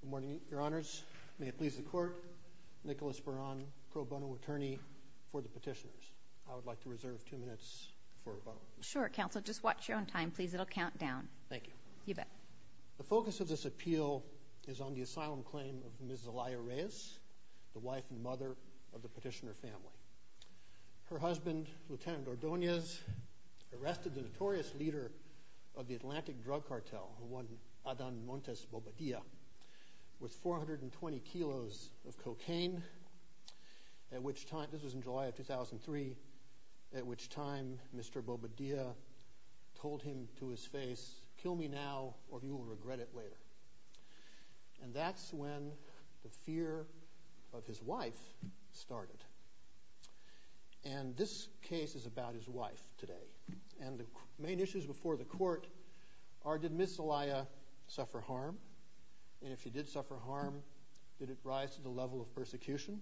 Good morning, Your Honors. May it please the Court, Nicholas Beran, pro bono attorney for the petitioners. I would like to reserve two minutes for a moment. Sure, Counsel. Just watch your own time, please. It'll count down. Thank you. You bet. The focus of this appeal is on the asylum claim of Ms. Zelaya Reyes, the wife and mother of the petitioner family. Her husband, Lieutenant Ordonez, arrested the notorious leader of the Atlantic Drug Cartel, Adan Montes Bobadilla, with 420 kilos of cocaine. This was in July of 2003, at which time Mr. Bobadilla told him to his face, kill me now or you will regret it later. And that's when the fear of his wife started. And this case is about his wife today. And the main issues before the Court are, did Ms. Zelaya suffer harm? And if she did suffer harm, did it rise to the level of persecution?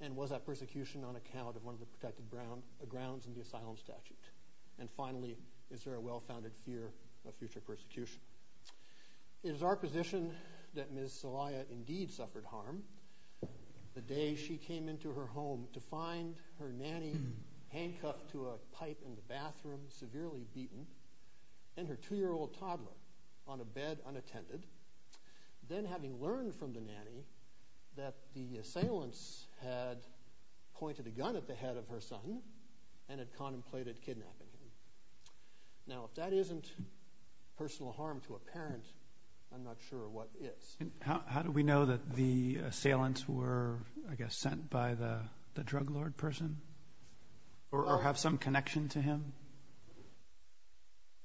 And was that persecution on account of one of the protected grounds in the asylum statute? And finally, is there a well-founded fear of future persecution? It is our position that Ms. Zelaya indeed suffered harm. The day she came into her home to find her nanny handcuffed to a pipe in the bathroom, severely beaten, and her two-year-old toddler on a bed unattended, then having learned from the nanny that the assailants had pointed a gun at the head of her son and had contemplated kidnapping him. Now, if that isn't personal harm to a parent, I'm not sure what is. How do we know that the assailants were, I guess, sent by the drug lord person? Or have some connection to him?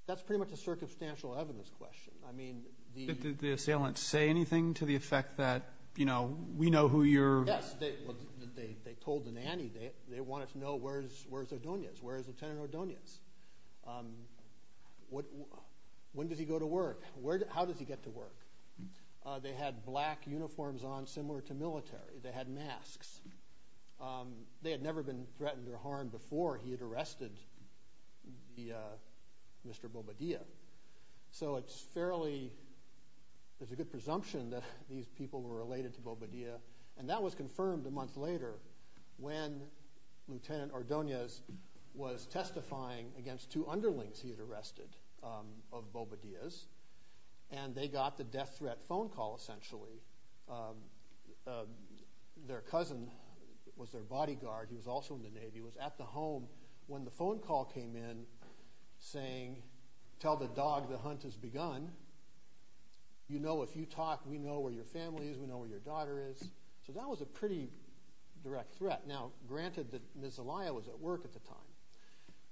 That's pretty much a circumstantial evidence question. I mean, the... Did the assailants say anything to the effect that, you know, we know who you're... Yes, they told the nanny, they wanted to know where's Ordonez, where's Lieutenant Ordonez? When does he go to work? How does he get to work? They had black uniforms on, similar to military. They had masks. They had never been threatened or harmed before he had arrested Mr. Bobadilla. So it's fairly... There's a good presumption that these people were related to Bobadilla. And that was confirmed a month later when Lieutenant Ordonez was testifying against two underlings he had arrested of Bobadilla's. And they got the death threat phone call, essentially. Their cousin was their bodyguard, he was also in the Navy, was at the home when the phone call came in saying, tell the dog the hunt has begun. You know, if you talk, we know where your family is, we know where your daughter is. So that was a pretty direct threat. Now, granted that Niselaya was at work at the time.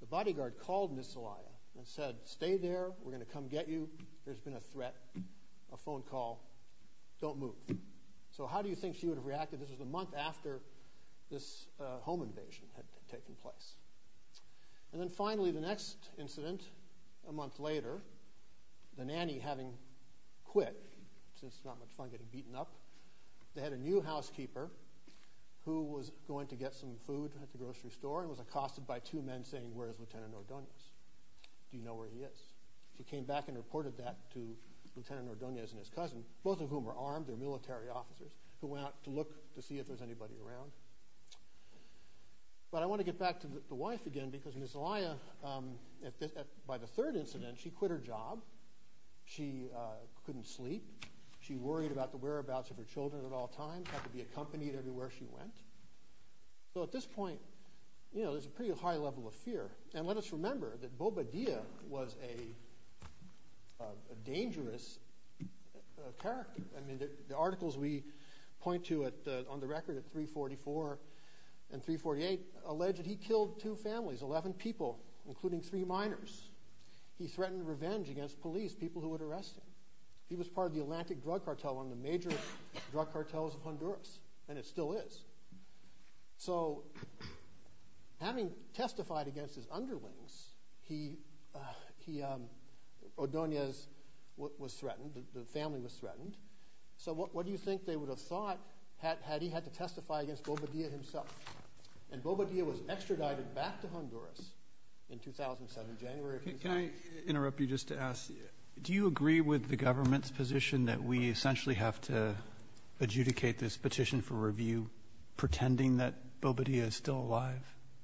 The bodyguard called Niselaya and said, stay there, we're gonna come get you. There's been a threat, a phone call, don't move. So how do you think she would have reacted? This was the month after this home invasion had taken place. And then finally the next incident, a month later, the nanny having quit, since it's not much fun getting beaten up, they had a new housekeeper who was going to get some food at the grocery store and was accosted by two men saying, where's Lieutenant Ordonez? Do you know where he is? She came back and reported that to Lieutenant Ordonez and his cousin, both of whom were armed, they're military officers, who went out to look to see if there's anybody around. But I want to get back to the wife again because Niselaya, by the third incident, she quit her job, she couldn't sleep, she worried about the whereabouts of her children at all times, had to be accompanied everywhere she went. So at this point, you know, there's a pretty high level of fear. And let us remember that Boba Dia was a dangerous character. I mean, the articles we point to on the record at 344 and 348 alleged he killed two families, 11 people, including three minors. He threatened revenge against police, people who would arrest him. He was part of the still is. So having testified against his underlings, he, he, Ordonez was threatened, the family was threatened. So what do you think they would have thought had he had to testify against Boba Dia himself? And Boba Dia was extradited back to Honduras in 2007, January. Can I interrupt you just to ask, do you agree with the government's position that we essentially have to adjudicate this petition for review, pretending that Boba Dia is still alive?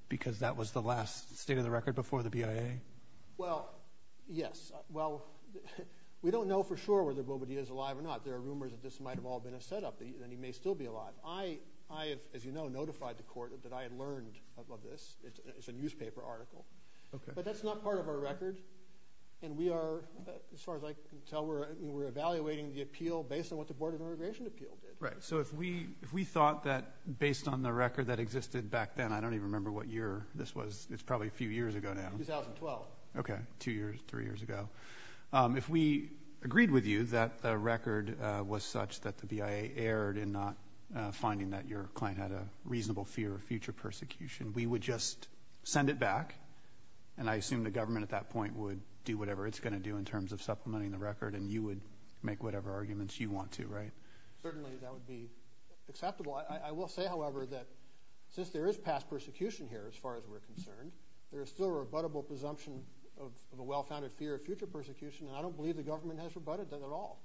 Because that was the last state of the record before the BIA? Well, yes. Well, we don't know for sure whether Boba Dia is alive or not. There are rumors that this might have all been a setup, that he may still be alive. I, as you know, notified the court that I had learned about this. It's a newspaper article. Okay. But that's not part of our record. And we are, as far as I can tell, we're evaluating the appeal based on what the Board of Immigration Appeal did. Right. So if we, if we thought that based on the record that existed back then, I don't even remember what year this was. It's probably a few years ago now. 2012. Okay. Two years, three years ago. If we agreed with you that the record was such that the BIA erred in not finding that your client had a reasonable fear of future persecution, we would just send it back. And I assume the government at that point would do whatever it's to do in terms of supplementing the record, and you would make whatever arguments you want to, right? Certainly, that would be acceptable. I will say, however, that since there is past persecution here, as far as we're concerned, there is still a rebuttable presumption of a well-founded fear of future persecution, and I don't believe the government has rebutted that at all.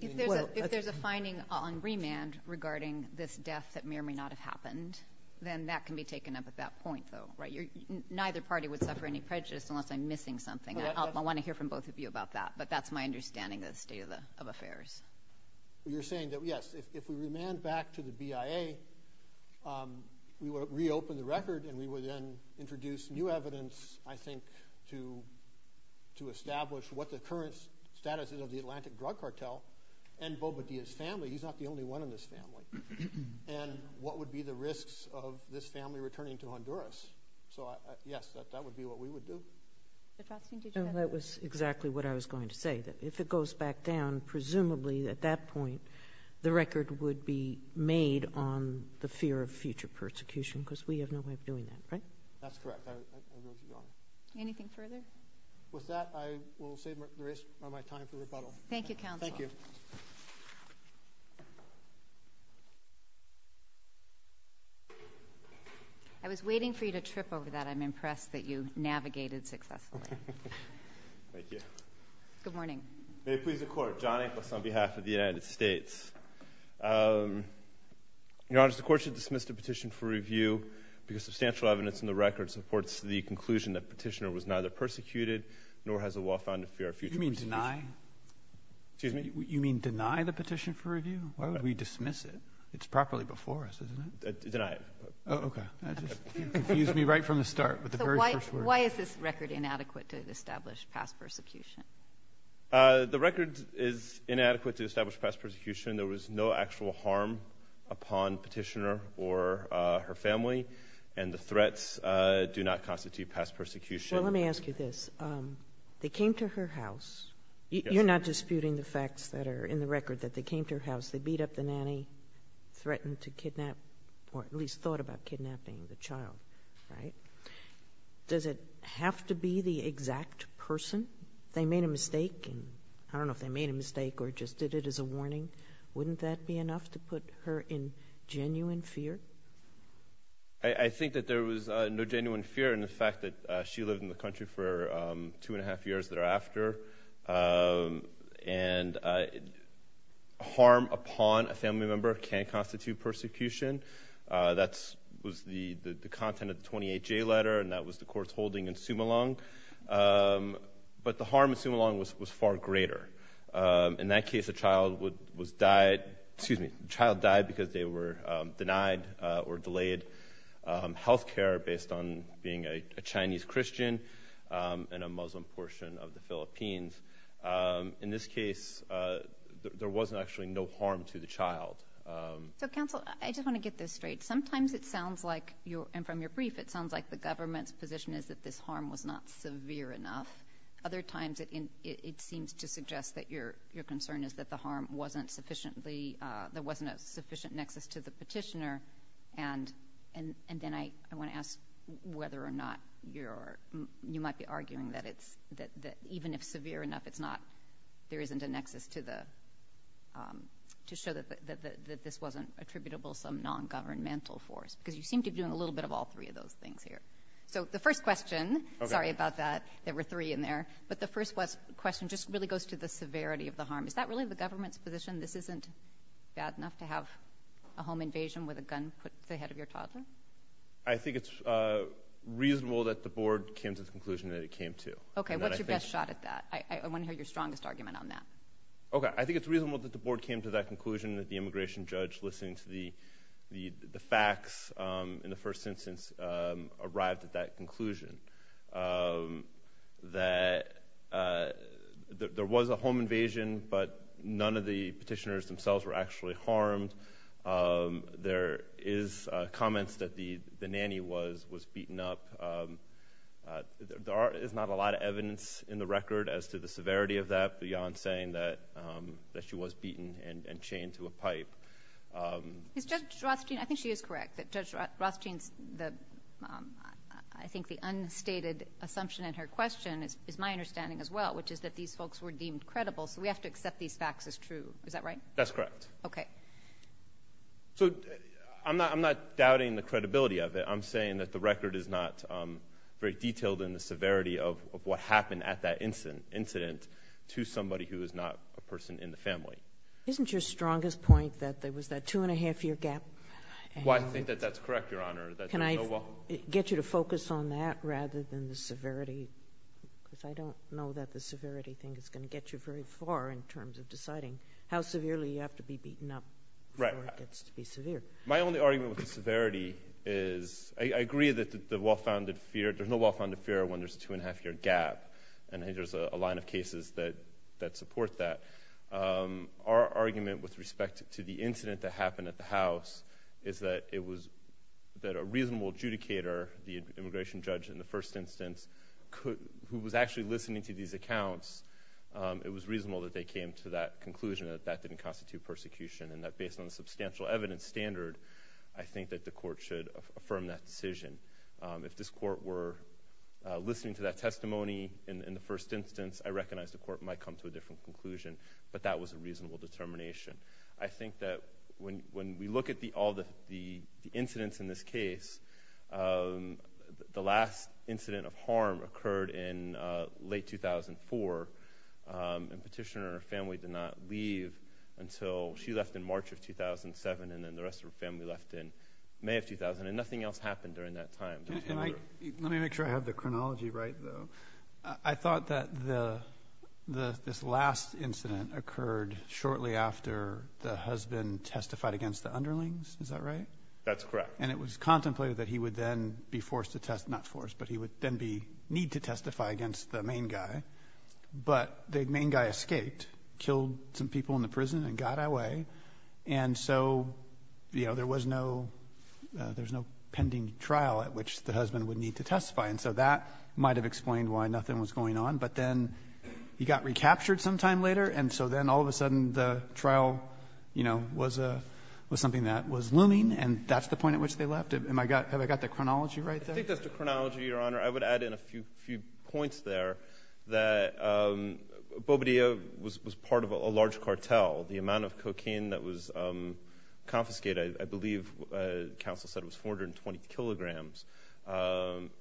If there's a finding on remand regarding this death that may or may not have happened, then that can be taken up at that point, though, right? Neither party would suffer any prejudice unless I'm missing something. I want to hear from both of you about that, but that's my understanding of the state of affairs. You're saying that, yes, if we remand back to the BIA, we would reopen the record, and we would then introduce new evidence, I think, to establish what the current status is of the Atlantic Drug Cartel and Bobadilla's family. He's not the only one in this family. And what would be the risks of this family returning to Honduras? So, yes, that would be what we would do. That was exactly what I was going to say, that if it goes back down, presumably, at that point, the record would be made on the fear of future persecution, because we have no way of doing that, right? That's correct. Anything further? With that, I will save the rest of my time for rebuttal. Thank you, counsel. Thank you. I was waiting for you to trip over that. I'm impressed that you navigated successfully. Thank you. Good morning. May it please the Court. John Inglis on behalf of the United States. Your Honor, the Court should dismiss the petition for review because substantial evidence in the record supports the conclusion that petitioner was neither persecuted nor has a law found to fear future persecution. You mean deny? Excuse me? You mean deny the petition for review? Why would we Why is this record inadequate to establish past persecution? The record is inadequate to establish past persecution. There was no actual harm upon petitioner or her family, and the threats do not constitute past persecution. Let me ask you this. They came to her house. You're not disputing the facts that are in the record that they came to her house. They beat up the child, right? Does it have to be the exact person? They made a mistake, and I don't know if they made a mistake or just did it as a warning. Wouldn't that be enough to put her in genuine fear? I think that there was no genuine fear in the fact that she lived in the country for two and a half years thereafter, and harm upon a family member can constitute persecution. That was the content of the 28-J letter, and that was the court's holding in Sumalong. But the harm in Sumalong was far greater. In that case, the child died because they were denied or delayed health care based on being a Chinese Christian and a Muslim portion of the Philippines. In this case, there wasn't actually no harm to the child. So, counsel, I just want to get this straight. Sometimes it sounds like, and from your brief, it sounds like the government's position is that this harm was not severe enough. Other times, it seems to suggest that your concern is that the harm wasn't sufficiently, there wasn't a sufficient nexus to the petitioner, and then I want to ask whether or not you might be arguing that even if severe enough, there isn't a nexus to show that this wasn't attributable to some non-governmental force, because you seem to be doing a little bit of all three of those things here. So, the first question, sorry about that, there were three in there, but the first question just really goes to the severity of the harm. Is that really the government's position? This isn't bad enough to have a home invasion with a gun put the head of your toddler? I think it's reasonable that the board came to the conclusion that it came to. Okay, what's your best shot at that? I want to hear your strongest argument on that. Okay, I think it's reasonable that the board came to that conclusion that the immigration judge listening to the facts in the first instance arrived at that conclusion, that there was a home invasion, but none of the petitioners themselves were actually harmed. There is comments that the nanny was beaten up. There is not a lot of evidence in the record as to the that she was beaten and chained to a pipe. Is Judge Rothstein, I think she is correct, that Judge Rothstein's, I think the unstated assumption in her question is my understanding as well, which is that these folks were deemed credible, so we have to accept these facts as true. Is that right? That's correct. Okay. So, I'm not doubting the credibility of it. I'm saying that the record is not very detailed in the severity of what happened at that incident to somebody who is not a person in the family. Isn't your strongest point that there was that two and a half year gap? Well, I think that that's correct, Your Honor. Can I get you to focus on that rather than the severity? Because I don't know that the severity thing is going to get you very far in terms of deciding how severely you have to be beaten up before it gets to be severe. My only argument with the severity is, I agree that there's no well-founded fear when there's two and a half year gap, and there's a line of cases that support that. Our argument with respect to the incident that happened at the house is that it was, that a reasonable adjudicator, the immigration judge in the first instance, who was actually listening to these accounts, it was reasonable that they came to that conclusion that that didn't constitute persecution and that based on the substantial evidence standard, I think that the court should in the first instance, I recognize the court might come to a different conclusion, but that was a reasonable determination. I think that when we look at all the incidents in this case, the last incident of harm occurred in late 2004, and Petitioner and her family did not leave until she left in March of 2007, and then the rest of her family left in May of 2000, and nothing else happened during that time. Let me make sure I have the chronology right. I thought that this last incident occurred shortly after the husband testified against the underlings, is that right? That's correct. And it was contemplated that he would then be forced to test, not forced, but he would then need to testify against the main guy, but the main guy escaped, killed some people in the prison and got away, and so there was no pending trial at which the husband would need to testify, and so that might have explained why nothing was going on, but then he got recaptured sometime later, and so then all of a sudden the trial was something that was looming, and that's the point at which they left. Have I got the chronology right there? I think that's the chronology, Your Honor. I would add in a few points there that Bobadilla was part of a large cartel,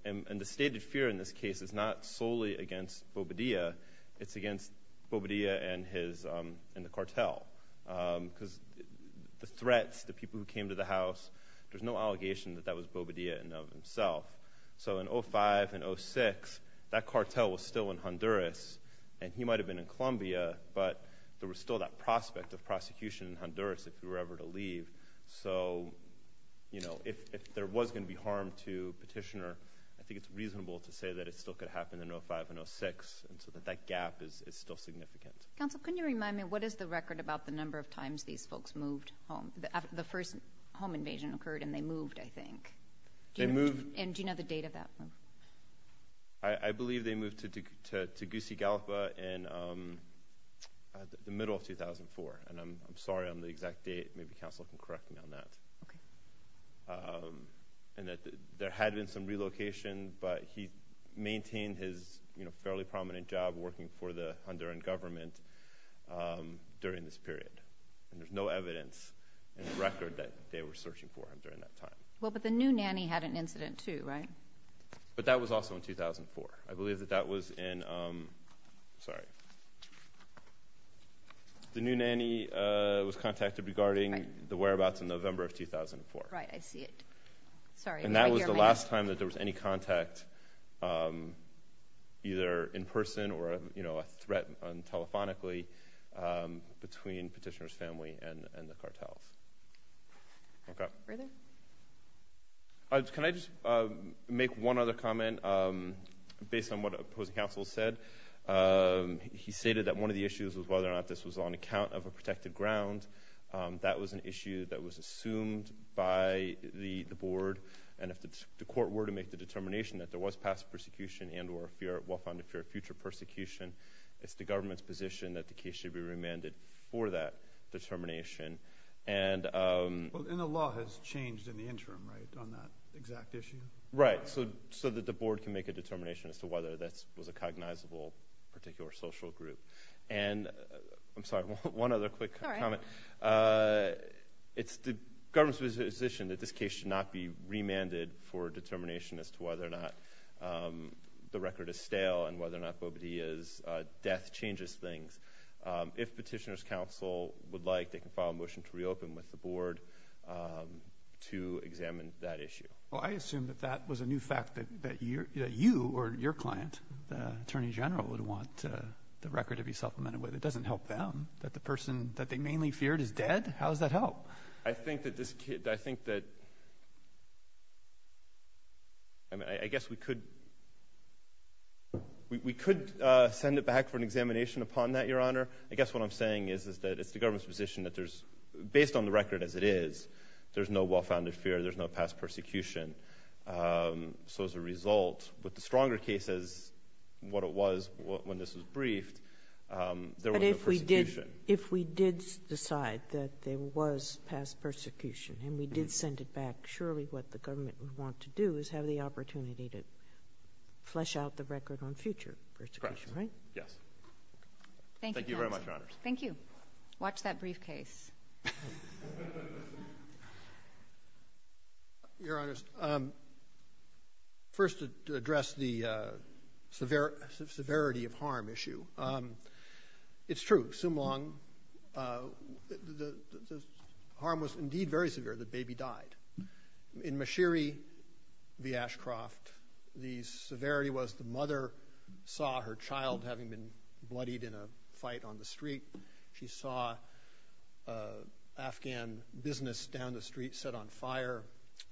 and the stated fear in this case is not solely against Bobadilla, it's against Bobadilla and the cartel, because the threats, the people who came to the house, there's no allegation that that was Bobadilla in and of himself, so in 2005 and 2006, that cartel was still in Honduras, and he might have been in Colombia, but there was still that prospect of prosecution in Honduras if there was going to be harm to Petitioner, I think it's reasonable to say that it still could have happened in 2005 and 2006, and so that gap is still significant. Counsel, can you remind me, what is the record about the number of times these folks moved home, the first home invasion occurred and they moved, I think? Do you know the date of that? I believe they moved to Tegucigalpa in the middle of 2004, and I'm sorry on the exact date, maybe Counsel can correct me on that, and that there had been some relocation, but he maintained his fairly prominent job working for the Honduran government during this period, and there's no evidence in the record that they were searching for him during that time. Well, but the new nanny had an incident too, right? But that was also in 2004, I believe that that was in, sorry, the new nanny was contacted regarding the whereabouts in November of 2004. Right, I see it, sorry. And that was the last time that there was any contact either in person or, you know, a threat telephonically between Petitioner's family and the cartels. Okay. Further? Can I just make one other comment based on what opposing counsel said? He stated that one of the issues was whether or not this was on account of a protected ground. That was an issue that was assumed by the board, and if the court were to make the determination that there was past persecution and or fear, well-founded fear of future persecution, it's the government's position that the case should be remanded for that determination. And the law has changed in the interim, right, on that exact issue? Right, so that the board can make a determination as to whether that was a cognizable particular social group. And, I'm sorry, one other quick comment. It's the government's position that this case should not be remanded for determination as to whether or not the record is stale and whether or not Bobadilla's death changes things. If Petitioner's counsel would like, they can file a motion to reopen with the board to examine that issue. Well, I assume that that was a new fact that you or your client, the Attorney General, would want the record to be supplemented with. It doesn't help them. That the person that they could, we could send it back for an examination upon that, Your Honor. I guess what I'm saying is that it's the government's position that there's, based on the record as it is, there's no well-founded fear, there's no past persecution. So as a result, with the stronger case as what it was when this was briefed, there was no persecution. But if we did decide that there was past persecution and we did send it back, surely what the government would want to do is have the opportunity to flesh out the record on future persecution, right? Yes. Thank you very much, Your Honors. Thank you. Watch that briefcase. Your Honors, first to address the severity of harm issue. It's true, Sumlang, the harm was indeed very severe. The baby died. In Mashiri v. Ashcroft, the severity was the mother saw her child having been bloodied in a fight on the street. She saw Afghan business down the street set on fire.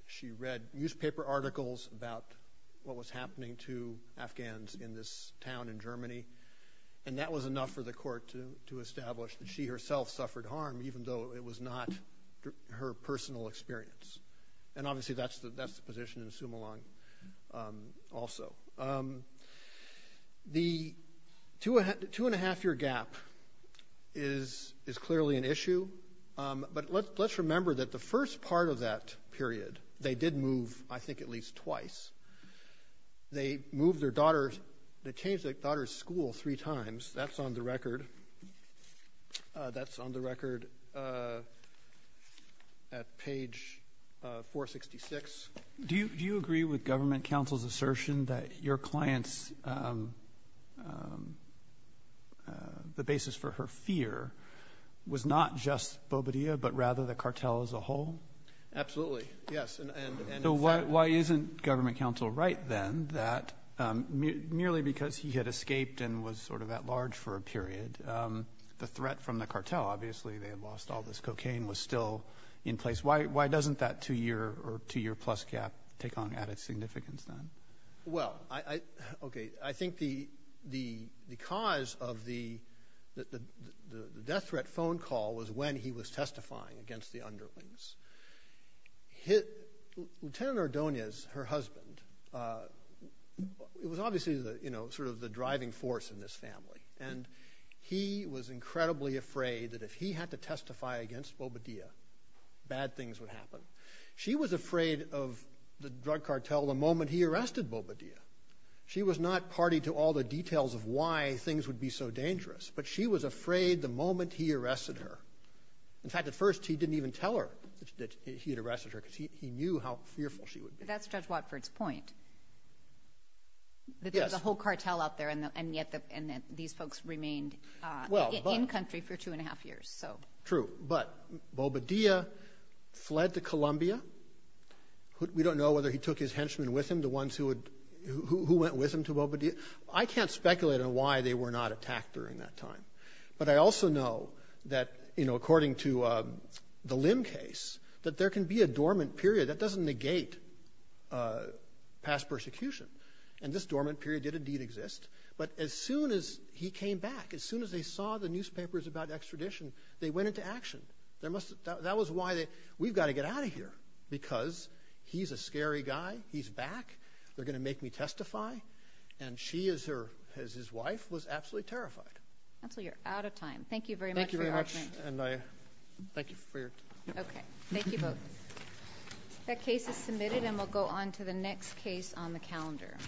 She read newspaper articles about what was happening to Afghans in this town in Germany. And that was enough for the court to establish that she herself suffered harm even though it was not her personal experience. And obviously, that's the position in Sumlang also. The two and a half year gap is clearly an issue. But let's remember that the first part of that period, they did move, I think, at least twice. They moved their daughter, they changed their daughter's school three times. That's on the record. That's on the record at page 466. Do you agree with government counsel's assertion that your client's the basis for her fear was not just Bobadilla, but rather the cartel as a whole? Absolutely. Yes. And so why isn't government counsel right then that merely because he had escaped and was sort of at large for a period, the threat from the cartel, obviously, they had lost all this cocaine was still in place. Why doesn't that two year or two year plus gap take at its significance then? Well, I think the cause of the death threat phone call was when he was testifying against the underlings. Lieutenant Ordonez, her husband, it was obviously sort of the driving force in this family. And he was incredibly afraid that if he had to testify against Bobadilla, bad things would happen. She was afraid of the drug cartel the moment he arrested Bobadilla. She was not party to all the details of why things would be so dangerous, but she was afraid the moment he arrested her. In fact, at first, he didn't even tell her that he had arrested her because he knew how fearful she would be. That's Judge Watford's point. Yes. That there's a whole cartel out there and yet these folks remained in country for two and a half years. True. But Bobadilla fled to Colombia. We don't know whether he took his henchmen with him, the ones who went with him to Bobadilla. I can't speculate on why they were not attacked during that time. But I also know that according to the Lim case, that there can be a dormant period that doesn't negate past persecution. And this dormant period did indeed exist. But as soon as he came back, as soon as they saw the newspapers about extradition, they went into action. That was why they, we've got to get out of here because he's a scary guy. He's back. They're going to make me testify. And she, as his wife, was absolutely terrified. That's all. You're out of time. Thank you very much. Thank you very much. And I thank you for your time. Okay. Thank you both. That case is submitted and we'll go on to the next case on the calendar.